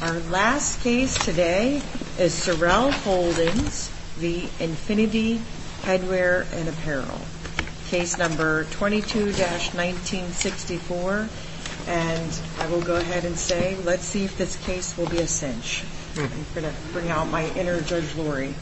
Our last case today is Sorrell Holdings v. Infinity Headwear & Apparel Case number 22-1964 and I will go ahead and say let's see if this case will be a cinch. I'm going to bring out my inner Judge Laurie.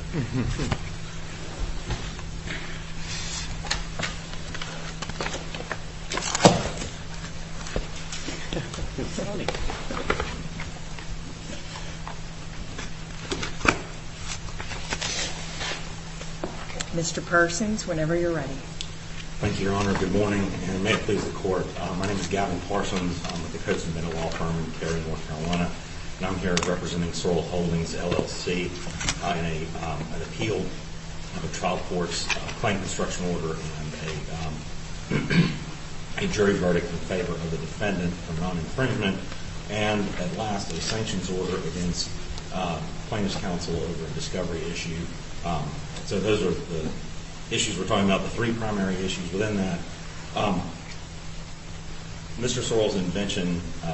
Mr. Parsons, whenever you're ready. Thank you, Your Honor. Good morning and may it please the Court. My name is Gavin Parsons. I'm with the Coats & Bindelwald firm in Cary, North Carolina. And I'm here representing Sorrell Holdings, LLC in an appeal of a trial court's claim construction order and a jury verdict in favor of the defendant for non-infringement. And at last, a sanctions order against plaintiff's counsel over a discovery issue. So those are the issues we're talking about, the three primary issues within that. Mr. Sorrell's invention,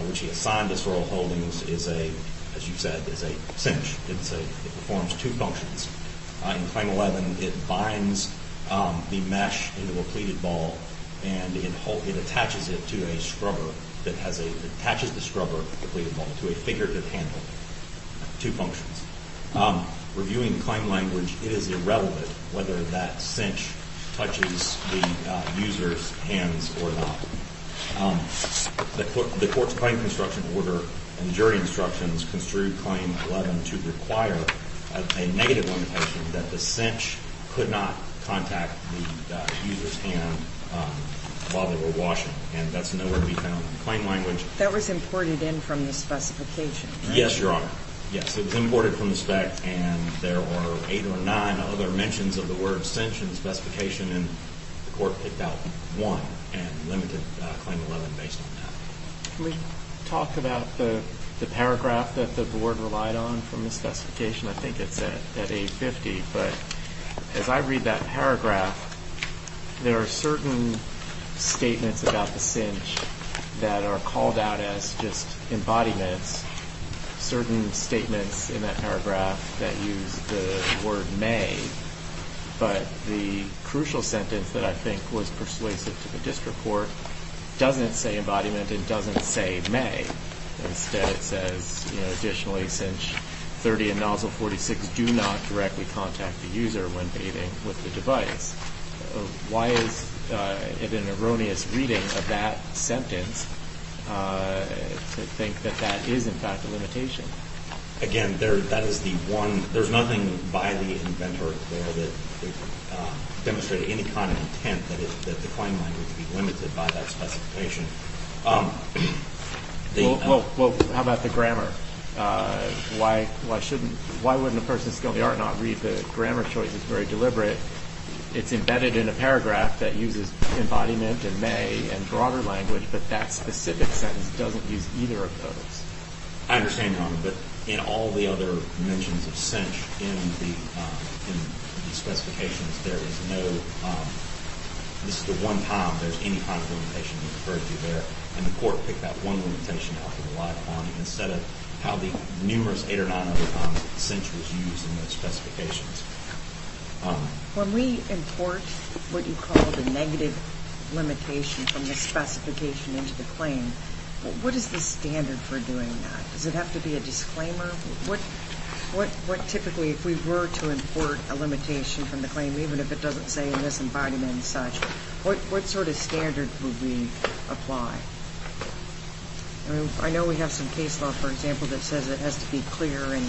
which he assigned to Sorrell Holdings, is a, as you said, is a cinch. It performs two functions. In Claim 11, it binds the mesh into a pleated ball and it attaches it to a scrubber. It attaches the scrubber, the pleated ball, to a figurative handle. Two functions. Reviewing the claim language, it is irrelevant whether that cinch touches the user's hands or not. The Court's claim construction order and jury instructions construe Claim 11 to require a negative limitation that the cinch could not contact the user's hand while they were washing. And that's nowhere to be found in the claim language. That was imported in from the specification, right? Yes, Your Honor. Yes, it was imported from the spec. And there were eight or nine other mentions of the word cinch in the specification. And the Court picked out one and limited Claim 11 based on that. Can we talk about the paragraph that the Board relied on from the specification? I think it's at 850. But as I read that paragraph, there are certain statements about the cinch that are called out as just embodiments, certain statements in that paragraph that use the word may. But the crucial sentence that I think was persuasive to the district court doesn't say embodiment and doesn't say may. Instead, it says, you know, additionally, cinch 30 and nozzle 46 do not directly contact the user when bathing with the device. Why is it an erroneous reading of that sentence to think that that is, in fact, a limitation? Again, that is the one. There's nothing by the inventor there that demonstrated any kind of intent that the claim language be limited by that specification. Well, how about the grammar? Why wouldn't a person of skill in the art not read the grammar choices very deliberate? It's embedded in a paragraph that uses embodiment and may and broader language, but that specific sentence doesn't use either of those. I understand, Your Honor, but in all the other mentions of cinch in the specifications, there is no – this is the one time there's any kind of limitation referred to there, and the court picked that one limitation out of a lot of them instead of how the numerous eight or nine other times cinch was used in those specifications. When we import what you call the negative limitation from the specification into the claim, what is the standard for doing that? Does it have to be a disclaimer? What typically, if we were to import a limitation from the claim, even if it doesn't say in this embodiment and such, what sort of standard would we apply? I know we have some case law, for example, that says it has to be clear and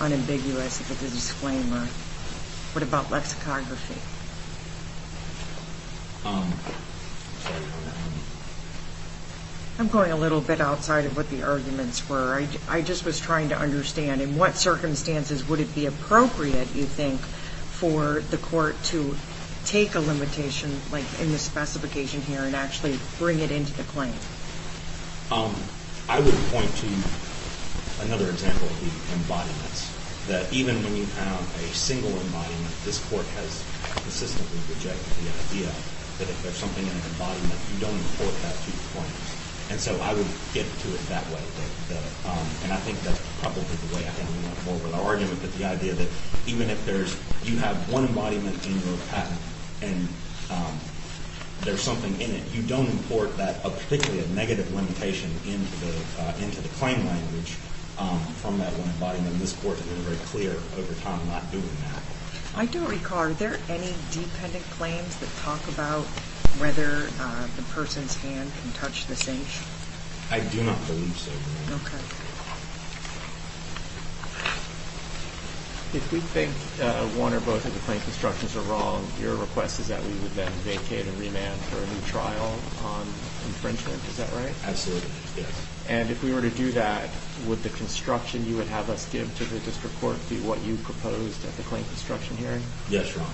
unambiguous if it's a disclaimer. What about lexicography? I'm going a little bit outside of what the arguments were. I just was trying to understand in what circumstances would it be appropriate, you think, for the court to take a limitation like in the specification here and actually bring it into the claim? I would point to another example of the embodiments, that even when you have a single embodiment, this court has consistently rejected the idea that if there's something in an embodiment, you don't import that to your claims. And so I would get to it that way. And I think that's probably the way I can move forward with our argument, but the idea that even if you have one embodiment in your patent and there's something in it, you don't import particularly a negative limitation into the claim language from that one embodiment. This court has been very clear over time not doing that. I don't recall. Are there any dependent claims that talk about whether the person's hand can touch the sink? I do not believe so. Okay. If we think one or both of the claim constructions are wrong, your request is that we would then vacate and remand for a new trial on infringement. Is that right? Absolutely, yes. And if we were to do that, would the construction you would have us give to the district court be what you proposed at the claim construction hearing? Yes, Your Honor.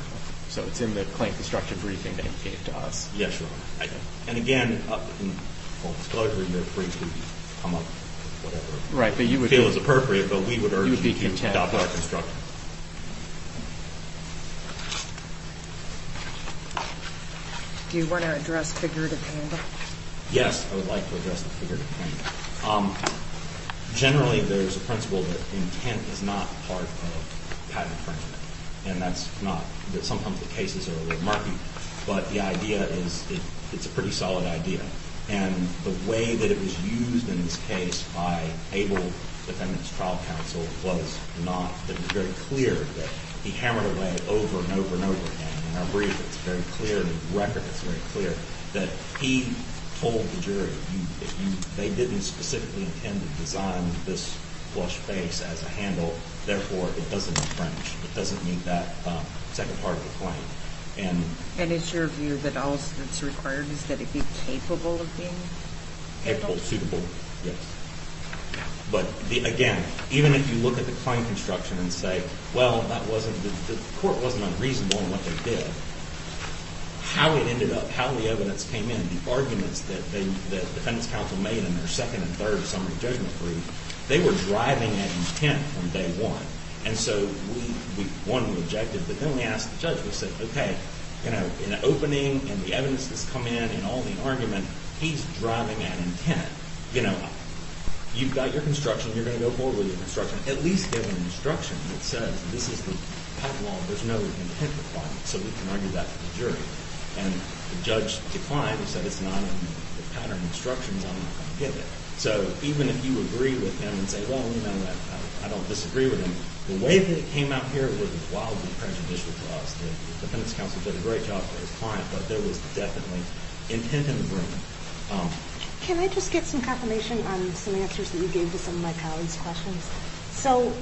So it's in the claim construction briefing to indicate to us. Yes, Your Honor. And, again, in full disclosure, you're free to come up with whatever you feel is appropriate, but we would urge you to adopt our construction. Do you want to address figurative claim? Yes, I would like to address the figurative claim. Generally, there's a principle that intent is not part of patent infringement, and that's not. Sometimes the cases are a little murky, but the idea is it's a pretty solid idea. And the way that it was used in this case by Abel, the Feminist Trial Counsel, was not that it was very clear that he hammered away over and over and over again. In our brief, it's very clear in the record, it's very clear that he told the jury, they didn't specifically intend to design this flush face as a handle, therefore it doesn't infringe, it doesn't meet that second part of the claim. And it's your view that all that's required is that it be capable of being? Capable, suitable, yes. But, again, even if you look at the claim construction and say, well, the court wasn't unreasonable in what they did, how it ended up, how the evidence came in, the arguments that the Defendant's Counsel made in their second and third summary judgment brief, they were driving at intent from day one. And so we won the objective. But then we asked the judge, we said, okay, in the opening and the evidence that's come in and all the argument, he's driving at intent. You know, you've got your construction, you're going to go forward with your construction. At least get an instruction that says this is the pipeline. There's no intent requirement, so we can argue that for the jury. And the judge declined. He said it's not in the pattern of instructions I'm going to give it. So even if you agree with him and say, well, you know what, I don't disagree with him, the way that it came out here was wildly prejudicial to us. The Defendant's Counsel did a great job for his client, but there was definitely intent in the room. Can I just get some confirmation on some answers that you gave to some of my colleagues' questions? So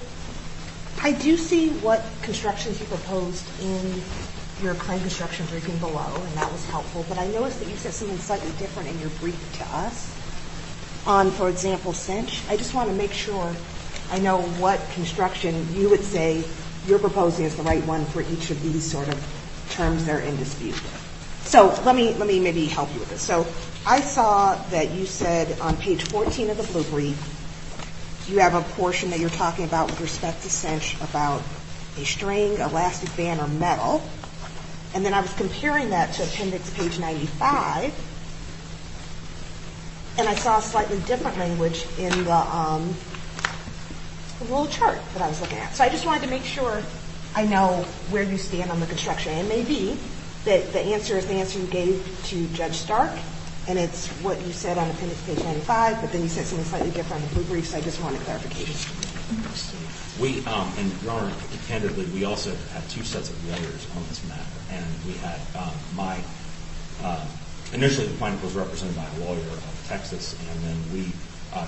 I do see what constructions you proposed in your claim construction briefing below, and that was helpful. But I noticed that you said something slightly different in your brief to us on, for example, cinch. I just want to make sure I know what construction you would say you're proposing is the right one for each of these sort of terms that are in dispute. So let me maybe help you with this. So I saw that you said on page 14 of the blue brief, you have a portion that you're talking about with respect to cinch about a string, elastic band, or metal. And then I was comparing that to appendix page 95, and I saw a slightly different language in the little chart that I was looking at. So I just wanted to make sure I know where you stand on the construction. It may be that the answer is the answer you gave to Judge Stark, and it's what you said on appendix page 95, but then you said something slightly different in the blue brief, so I just wanted clarification. We, and your Honor, candidly, we also have two sets of letters on this matter. And we had my, initially the plaintiff was represented by a lawyer in Texas, and then we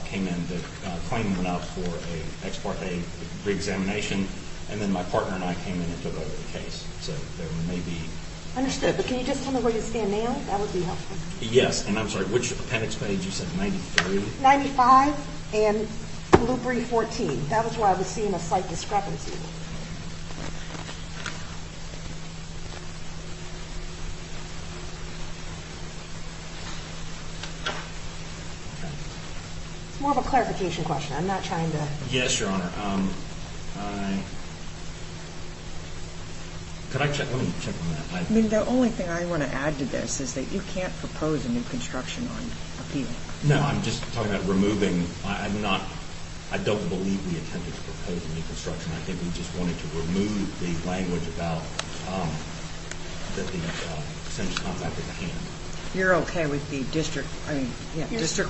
came in to claim one out for a pre-examination, and then my partner and I came in and took over the case. So there may be... Understood, but can you just tell me where you stand now? That would be helpful. Yes, and I'm sorry, which appendix page? You said 93? 95 and blue brief 14. That was where I was seeing a slight discrepancy. It's more of a clarification question. I'm not trying to... Yes, your Honor. Could I check? Let me check on that. The only thing I want to add to this is that you can't propose a new construction on appeal. No, I'm just talking about removing. I'm not, I don't believe we intended to propose a new construction. I think we just wanted to remove the language about that the essential contractor can't. You're okay with the district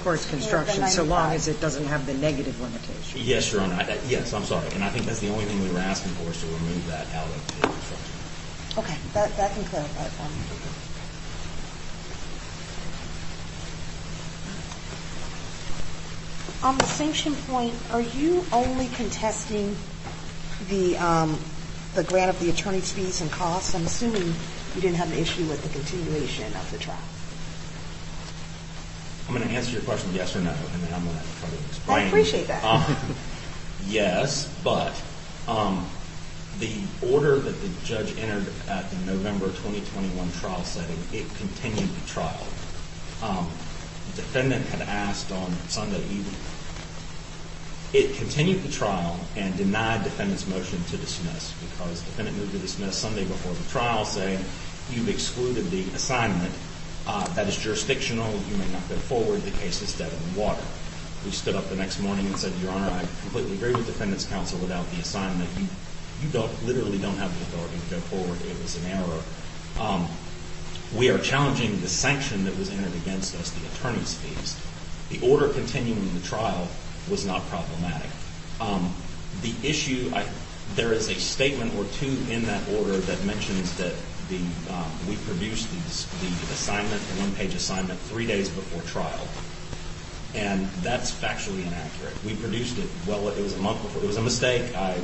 court's construction so long as it doesn't have the negative limitation? Yes, your Honor. Yes, I'm sorry. And I think that's the only thing we were asking for is to remove that out of the construction. Okay, that can clarify it for me. On the sanction point, are you only contesting the grant of the attorney's fees and costs? I'm assuming you didn't have an issue with the continuation of the trial. I'm going to answer your question yes or no, and then I'm going to try to explain. I appreciate that. Yes, but the order that the judge entered at the November 2021 trial setting, it continued the trial. The defendant had asked on Sunday evening, it continued the trial and denied the defendant's motion to dismiss because the defendant moved to dismiss Sunday before the trial saying you've excluded the assignment. That is jurisdictional. You may not go forward. The case is dead in the water. We stood up the next morning and said, your Honor, I completely agree with the defendant's counsel without the assignment. You literally don't have the authority to go forward. It was an error. We are challenging the sanction that was entered against us, the attorney's fees. The order continuing the trial was not problematic. The issue, there is a statement or two in that order that mentions that we produced the assignment, the one-page assignment, three days before trial, and that's factually inaccurate. We produced it, well, it was a month before. It was a mistake. It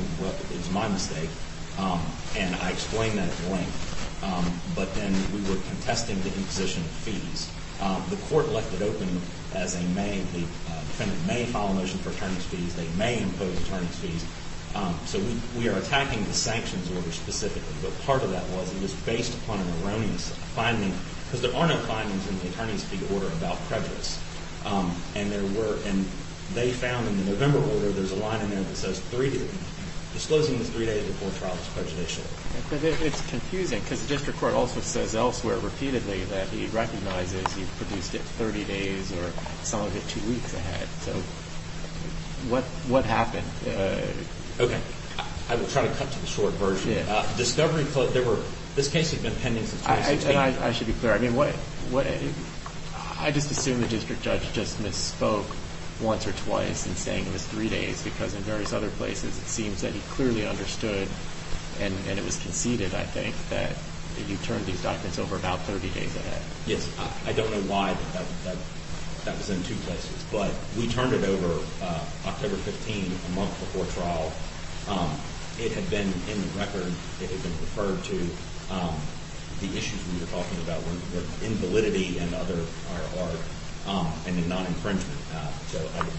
was my mistake, and I explained that at length. But then we were contesting the imposition of fees. The court left it open as a may. The defendant may file a motion for attorney's fees. They may impose attorney's fees. So we are attacking the sanctions order specifically, but part of that was it was based upon an erroneous finding because there are no findings in the attorney's fee order about prejudice. And there were, and they found in the November order, there's a line in there that says three days. Disclosing this three days before trial is prejudicial. But it's confusing because the district court also says elsewhere repeatedly that he recognizes he produced it 30 days or some of it two weeks ahead. So what happened? Okay. I will try to cut to the short version. Discovery, there were, this case has been pending since 2008. I should be clear. I just assume the district judge just misspoke once or twice in saying it was three days because in various other places it seems that he clearly understood, and it was conceded, I think, that you turned these documents over about 30 days ahead. Yes. I don't know why that was in two places. But we turned it over October 15, a month before trial. It had been in the record. It had been referred to. The issues we were talking about were invalidity and other, and non-infringement.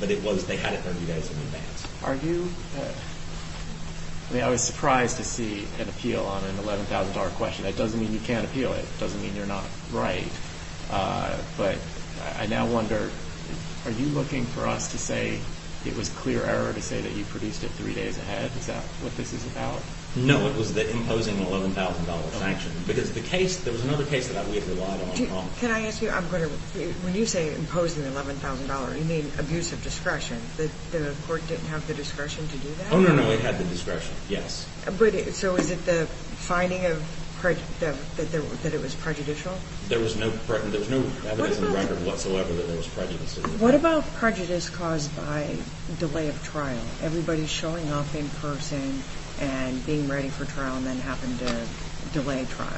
But it was, they had it 30 days in advance. Are you, I mean, I was surprised to see an appeal on an $11,000 question. That doesn't mean you can't appeal it. It doesn't mean you're not right. But I now wonder, are you looking for us to say it was clear error to say that you produced it three days ahead? Is that what this is about? No, it was the imposing the $11,000 sanction. Because the case, there was another case that we relied on. Can I ask you, I'm going to, when you say imposing the $11,000, you mean abuse of discretion. The court didn't have the discretion to do that? Oh, no, no, it had the discretion, yes. So is it the finding of, that it was prejudicial? There was no evidence in the record whatsoever that there was prejudice. What about prejudice caused by delay of trial? Everybody showing up in person and being ready for trial and then happened to delay trial.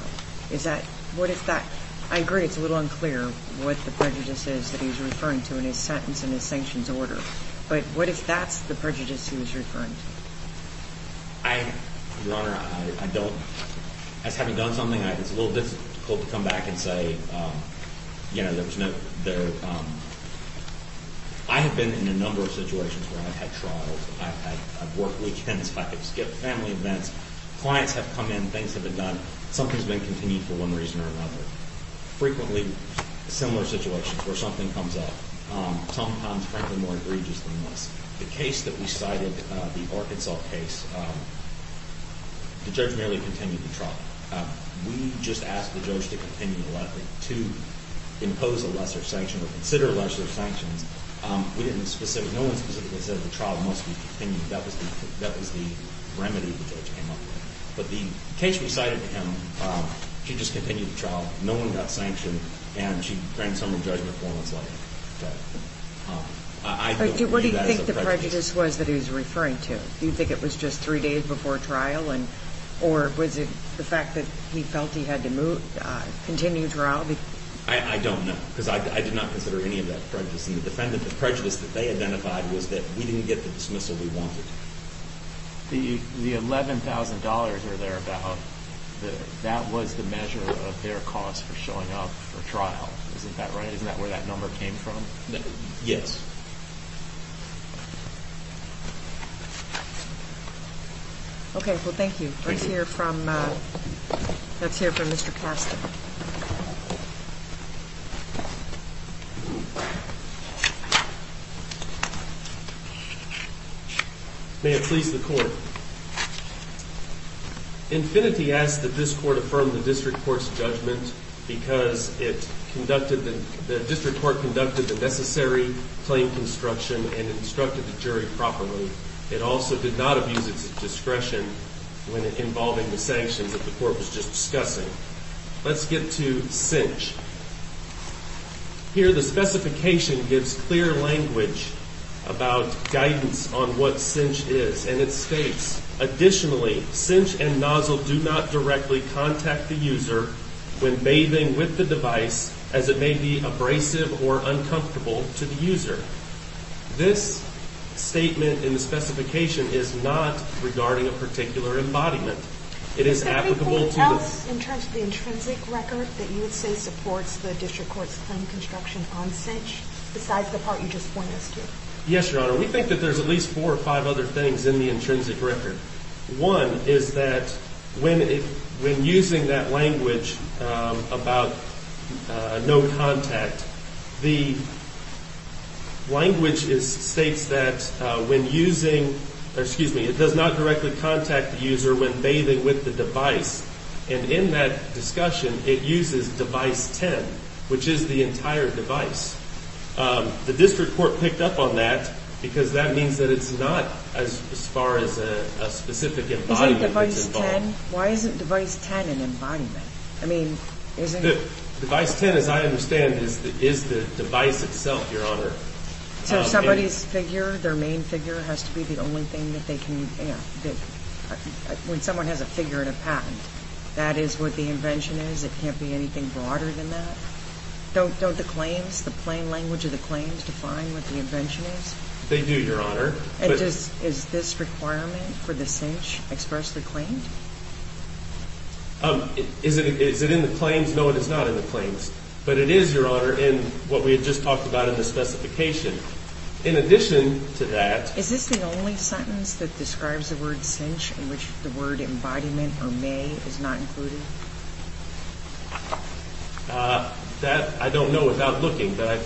Is that, what if that, I agree it's a little unclear what the prejudice is that he's referring to in his sentence and his sanctions order. But what if that's the prejudice he was referring to? Your Honor, I don't, as having done something, it's a little difficult to come back and say, you know, there was no, there, I have been in a number of situations where I've had trials. I've had, I've worked weekends, I've skipped family events. Clients have come in, things have been done. Something's been continued for one reason or another. Frequently similar situations where something comes up, sometimes frankly more egregious than this. The case that we cited, the Arkansas case, the judge merely continued the trial. We just asked the judge to continue the letter to impose a lesser sanction or consider lesser sanctions. We didn't specifically, no one specifically said the trial must be continued. That was the, that was the remedy the judge came up with. But the case we cited to him, she just continued the trial. No one got sanctioned. And she granted some re-judgment for him on his letter. I don't view that as a prejudice. What do you think the prejudice was that he was referring to? Do you think it was just three days before trial and, or was it the fact that he felt he had to move, continue trial? I don't know, because I did not consider any of that prejudice. And the defendant, the prejudice that they identified was that we didn't get the dismissal we wanted. The $11,000 or thereabout, that was the measure of their cost for showing up for trial. Isn't that right? Isn't that where that number came from? Yes. Okay. Well, thank you. Let's hear from, let's hear from Mr. Casta. May it please the Court. Infinity asks that this Court affirm the District Court's judgment because it conducted the, the District Court conducted the necessary claim construction and instructed the jury properly. It also did not abuse its discretion when involving the sanctions that the Court was just discussing. Let's get to Cinch. Here, the specification gives clear language about guidance on what Cinch is. And it states, additionally, Cinch and Nozzle do not directly contact the user when bathing with the device as it may be abrasive or uncomfortable to the user. This statement in the specification is not regarding a particular embodiment. It is applicable to the… Is there anything else in terms of the intrinsic record that you would say supports the District Court's claim construction on Cinch, besides the part you just pointed us to? Yes, Your Honor. We think that there's at least four or five other things in the intrinsic record. One is that when using that language about no contact, the language states that when using, or excuse me, it does not directly contact the user when bathing with the device. And in that discussion, it uses device 10, which is the entire device. The District Court picked up on that because that means that it's not as far as a specific embodiment. Is it device 10? Why isn't device 10 an embodiment? I mean, isn't… Device 10, as I understand, is the device itself, Your Honor. So somebody's figure, their main figure, has to be the only thing that they can, you know, when someone has a figure and a patent, that is what the invention is? It can't be anything broader than that? Don't the claims, the plain language of the claims, define what the invention is? They do, Your Honor. Is this requirement for the Cinch expressly claimed? Is it in the claims? No, it is not in the claims. But it is, Your Honor, in what we had just talked about in the specification. In addition to that… Is this the only sentence that describes the word Cinch in which the word embodiment or may is not included? That I don't know without looking, but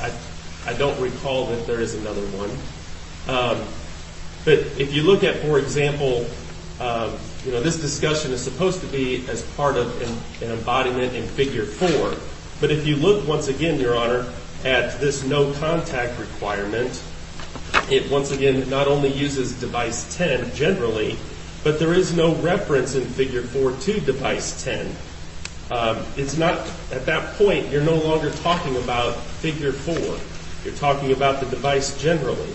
I don't recall that there is another one. But if you look at, for example, you know, this discussion is supposed to be as part of an embodiment in figure 4. But if you look once again, Your Honor, at this no contact requirement, it once again not only uses device 10 generally, but there is no reference in figure 4 to device 10. It's not, at that point, you're no longer talking about figure 4. You're talking about the device generally.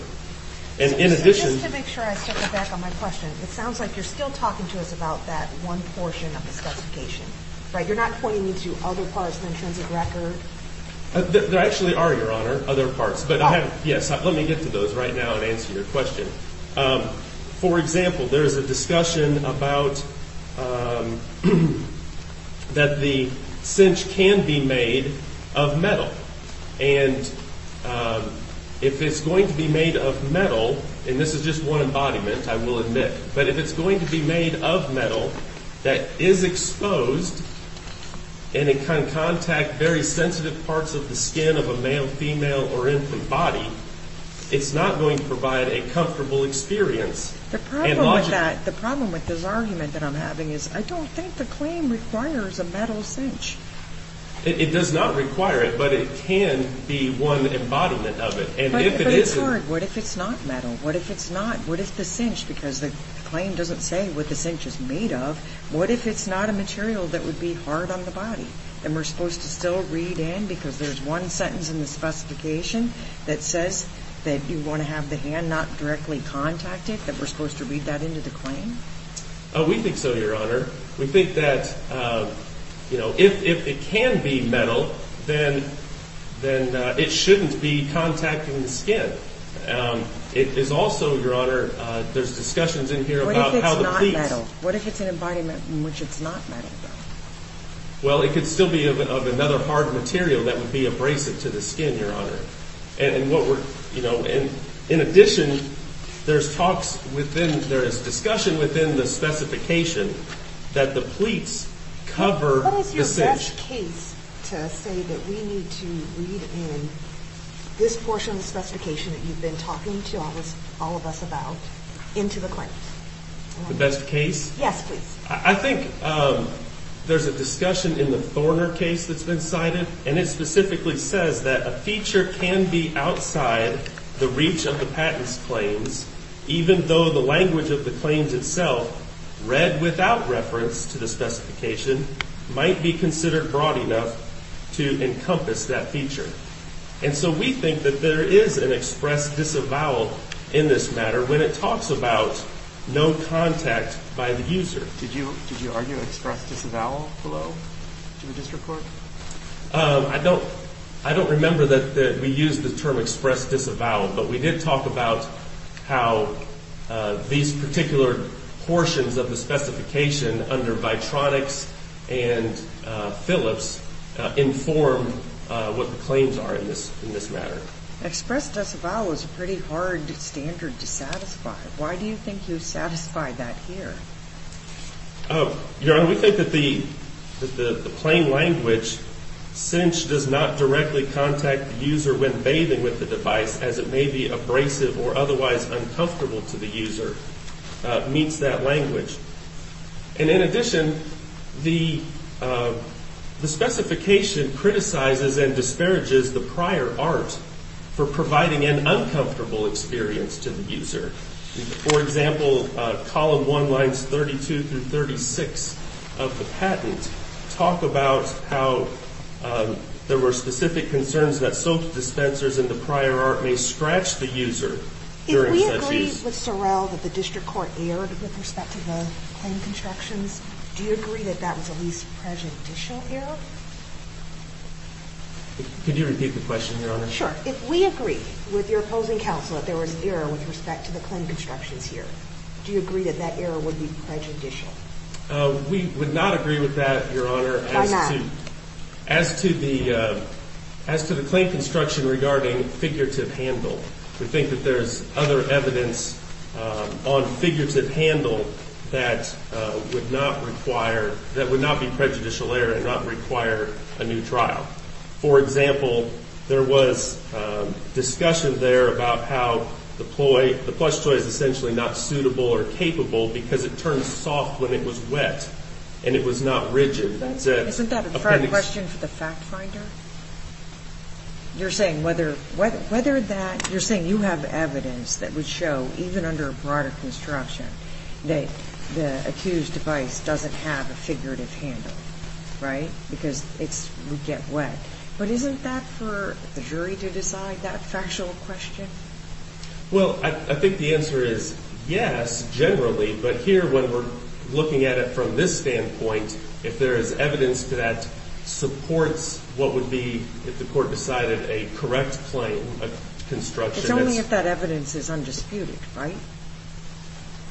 And in addition… Just to make sure I step back on my question, it sounds like you're still talking to us about that one portion of the specification, right? You're not pointing me to other parts in terms of record? There actually are, Your Honor, other parts. But I haven't, yes, let me get to those right now and answer your question. For example, there is a discussion about that the cinch can be made of metal. And if it's going to be made of metal, and this is just one embodiment, I will admit, but if it's going to be made of metal that is exposed and it can contact very sensitive parts of the skin of a male, female, or infant body, it's not going to provide a comfortable experience. The problem with that, the problem with this argument that I'm having is I don't think the claim requires a metal cinch. It does not require it, but it can be one embodiment of it. But it's hard. What if it's not metal? What if it's not, what if the cinch, because the claim doesn't say what the cinch is made of, what if it's not a material that would be hard on the body? And we're supposed to still read in because there's one sentence in the specification that says that you want to have the hand not directly contact it, that we're supposed to read that into the claim? We think so, Your Honor. We think that if it can be metal, then it shouldn't be contacting the skin. It is also, Your Honor, there's discussions in here about how the pleats What if it's not metal? What if it's an embodiment in which it's not metal? Well, it could still be of another hard material that would be abrasive to the skin, Your Honor. In addition, there's discussion within the specification that the pleats cover the cinch. What is your best case to say that we need to read in this portion of the specification that you've been talking to all of us about into the claims? The best case? Yes, please. I think there's a discussion in the Thorner case that's been cited, and it specifically says that a feature can be outside the reach of the patent's claims, even though the language of the claims itself, read without reference to the specification, might be considered broad enough to encompass that feature. And so we think that there is an express disavowal in this matter when it talks about no contact by the user. Did you argue an express disavowal below to the district court? I don't remember that we used the term express disavowal, but we did talk about how these particular portions of the specification under Vitronics and Phillips inform what the claims are in this matter. Express disavowal is a pretty hard standard to satisfy. Why do you think you satisfy that here? Your Honor, we think that the plain language, cinch does not directly contact the user when bathing with the device, as it may be abrasive or otherwise uncomfortable to the user, meets that language. And in addition, the specification criticizes and disparages the prior art for providing an uncomfortable experience to the user. For example, column one lines 32 through 36 of the patent talk about how there were specific concerns that soap dispensers and the prior art may scratch the user during such use. In the case with Sorrell that the district court erred with respect to the claim constructions, do you agree that that was a least prejudicial error? Could you repeat the question, Your Honor? Sure. If we agree with your opposing counsel that there was an error with respect to the claim constructions here, do you agree that that error would be prejudicial? We would not agree with that, Your Honor. Why not? As to the claim construction regarding figurative handle, we think that there's other evidence on figurative handle that would not require, that would not be prejudicial error and not require a new trial. For example, there was discussion there about how the ploy, the plush toy is essentially not suitable or capable because it turns soft when it was wet and it was not rigid. Isn't that a fair question for the fact finder? You're saying whether that, you're saying you have evidence that would show even under a broader construction that the accused device doesn't have a figurative handle, right? Because it would get wet. But isn't that for the jury to decide, that factual question? Well, I think the answer is yes, generally. But here when we're looking at it from this standpoint, if there is evidence that supports what would be, if the court decided a correct claim of construction. It's only if that evidence is undisputed, right?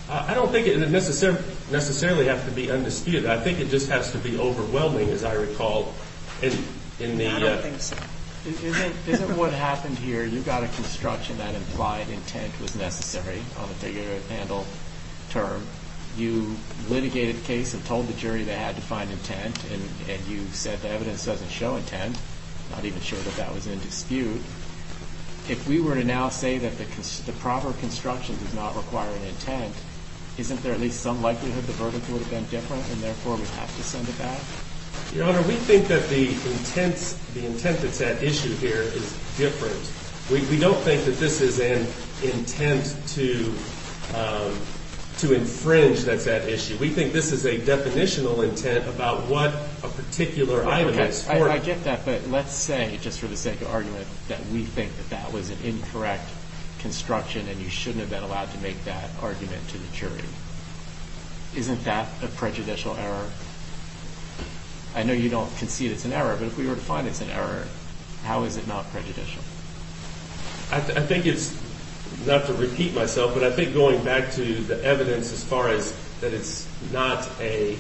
I don't think it would necessarily have to be undisputed. I think it just has to be overwhelming, as I recall. I don't think so. Isn't what happened here, you got a construction that implied intent was necessary on a figurative handle term. You litigated the case and told the jury they had to find intent. And you said the evidence doesn't show intent. Not even sure that that was in dispute. If we were to now say that the proper construction does not require an intent, isn't there at least some likelihood the verdict would have been different and therefore we'd have to send it back? Your Honor, we think that the intent that's at issue here is different. We don't think that this is an intent to infringe that's at issue. We think this is a definitional intent about what a particular item is. I get that, but let's say, just for the sake of argument, that we think that that was an incorrect construction and you shouldn't have been allowed to make that argument to the jury. Isn't that a prejudicial error? I know you don't concede it's an error, but if we were to find it's an error, how is it not prejudicial? I think it's, not to repeat myself, but I think going back to the evidence as far as that it's not a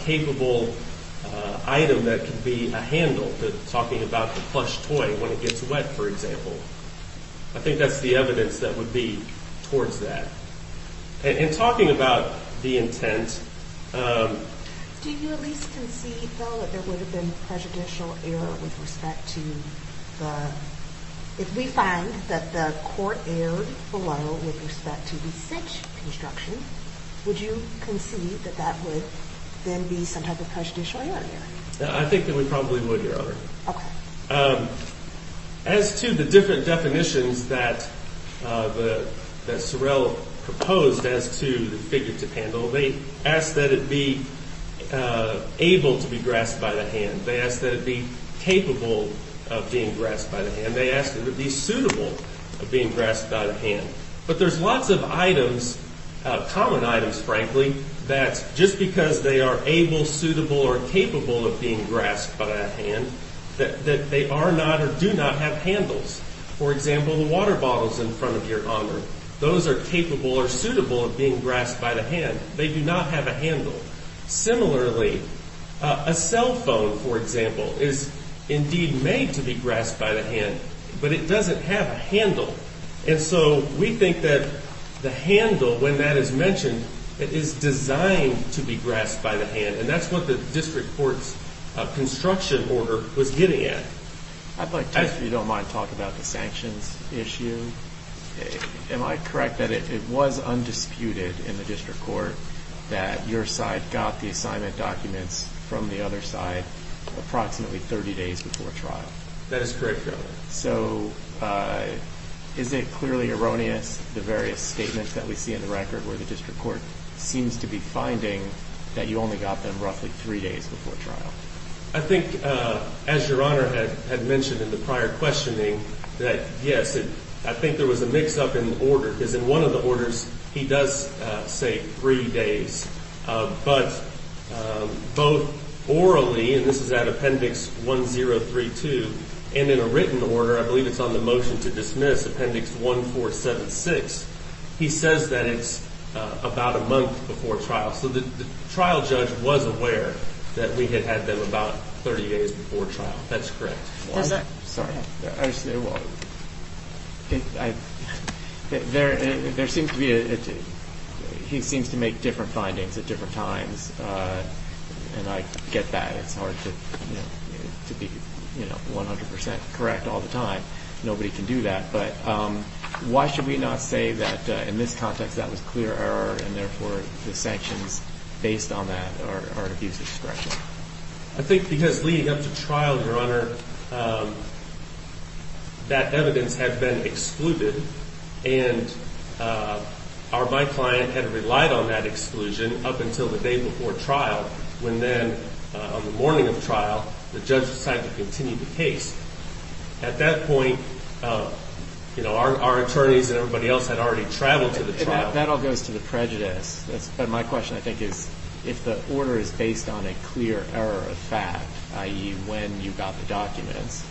capable item that can be a handle, talking about the plush toy when it gets wet, for example. I think that's the evidence that would be towards that. In talking about the intent... Do you at least concede, though, that there would have been prejudicial error with respect to the... If we find that the court erred below with respect to the such construction, would you concede that that would then be some type of prejudicial error here? I think that we probably would, Your Honor. Okay. As to the different definitions that Sorrell proposed as to the figure to handle, they ask that it be able to be grasped by the hand. They ask that it be capable of being grasped by the hand. They ask that it be suitable of being grasped by the hand. But there's lots of items, common items, frankly, that just because they are able, suitable, or capable of being grasped by the hand, that they are not or do not have handles. Those are capable or suitable of being grasped by the hand. They do not have a handle. Similarly, a cell phone, for example, is indeed made to be grasped by the hand, but it doesn't have a handle. And so we think that the handle, when that is mentioned, is designed to be grasped by the hand, and that's what the district court's construction order was getting at. I'd like to, if you don't mind, talk about the sanctions issue. Am I correct that it was undisputed in the district court that your side got the assignment documents from the other side approximately 30 days before trial? That is correct, Your Honor. So is it clearly erroneous, the various statements that we see in the record, where the district court seems to be finding that you only got them roughly three days before trial? I think, as Your Honor had mentioned in the prior questioning, that, yes, I think there was a mix-up in the order, because in one of the orders he does say three days, but both orally, and this is at Appendix 1032, and in a written order, I believe it's on the motion to dismiss, Appendix 1476, he says that it's about a month before trial. So the trial judge was aware that we had had them about 30 days before trial. That's correct. Sorry. There seems to be a difference. He seems to make different findings at different times, and I get that. It's hard to be 100% correct all the time. Nobody can do that. But why should we not say that, in this context, that was clear error, and therefore the sanctions based on that are an abuse of discretion? I think because leading up to trial, Your Honor, that evidence had been excluded, and my client had relied on that exclusion up until the day before trial, when then, on the morning of trial, the judge decided to continue the case. At that point, our attorneys and everybody else had already traveled to the trial. That all goes to the prejudice. But my question, I think, is if the order is based on a clear error of fact, i.e. when you got the documents,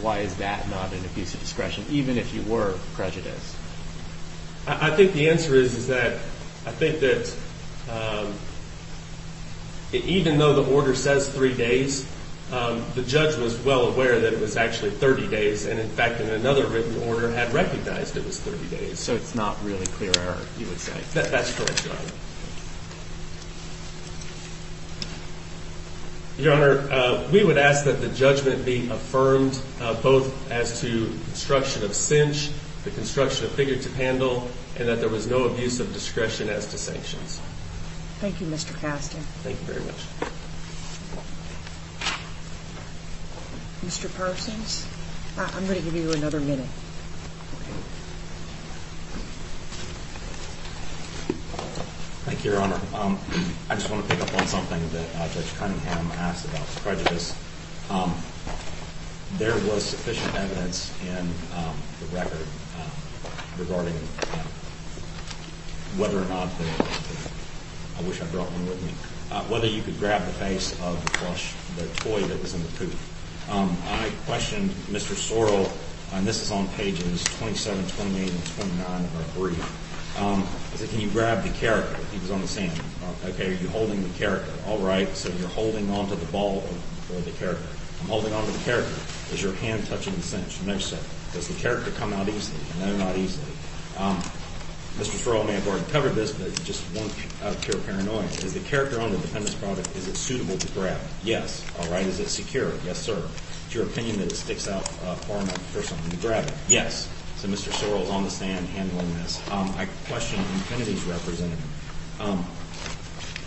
why is that not an abuse of discretion, even if you were prejudiced? I think the answer is that I think that even though the order says three days, the judge was well aware that it was actually 30 days, and, in fact, in another written order had recognized it was 30 days. So it's not really clear error, you would say? That's correct, Your Honor. Your Honor, we would ask that the judgment be affirmed, both as to construction of cinch, the construction of figure to handle, and that there was no abuse of discretion as to sanctions. Thank you, Mr. Kasten. Thank you very much. Mr. Parsons? I'm going to give you another minute. Thank you, Your Honor. I just want to pick up on something that Judge Cunningham asked about prejudice. There was sufficient evidence in the record regarding whether or not the toy that was in the pouf. I questioned Mr. Sorrell, and this is on pages 27, 28, and 29 of our brief. I said, can you grab the character? He was on the stand. Okay, are you holding the character? All right. So you're holding onto the ball or the character. I'm holding onto the character. Is your hand touching the cinch? No, sir. Does the character come out easily? No, not easily. Mr. Sorrell may have already covered this, but just out of pure paranoia, is the character on the defendant's product, is it suitable to grab? Yes. All right. Is it secure? Yes, sir. Is it your opinion that it sticks out far enough for someone to grab it? Yes. So Mr. Sorrell is on the stand handling this. I questioned the amenities representative.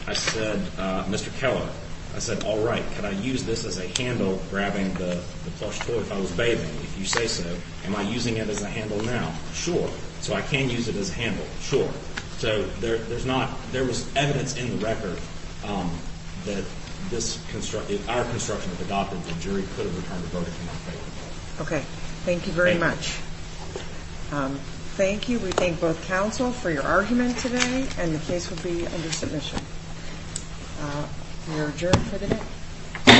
I said, Mr. Keller, I said, all right, can I use this as a handle grabbing the plush toy if I was bathing? If you say so. Am I using it as a handle now? Sure. So I can use it as a handle? Sure. So there was evidence in the record that if our construction had adopted, the jury could have returned the vote in my favor. Okay. Thank you very much. Thank you. Thank you. We thank both counsel for your argument today, and the case will be under submission. We are adjourned for today.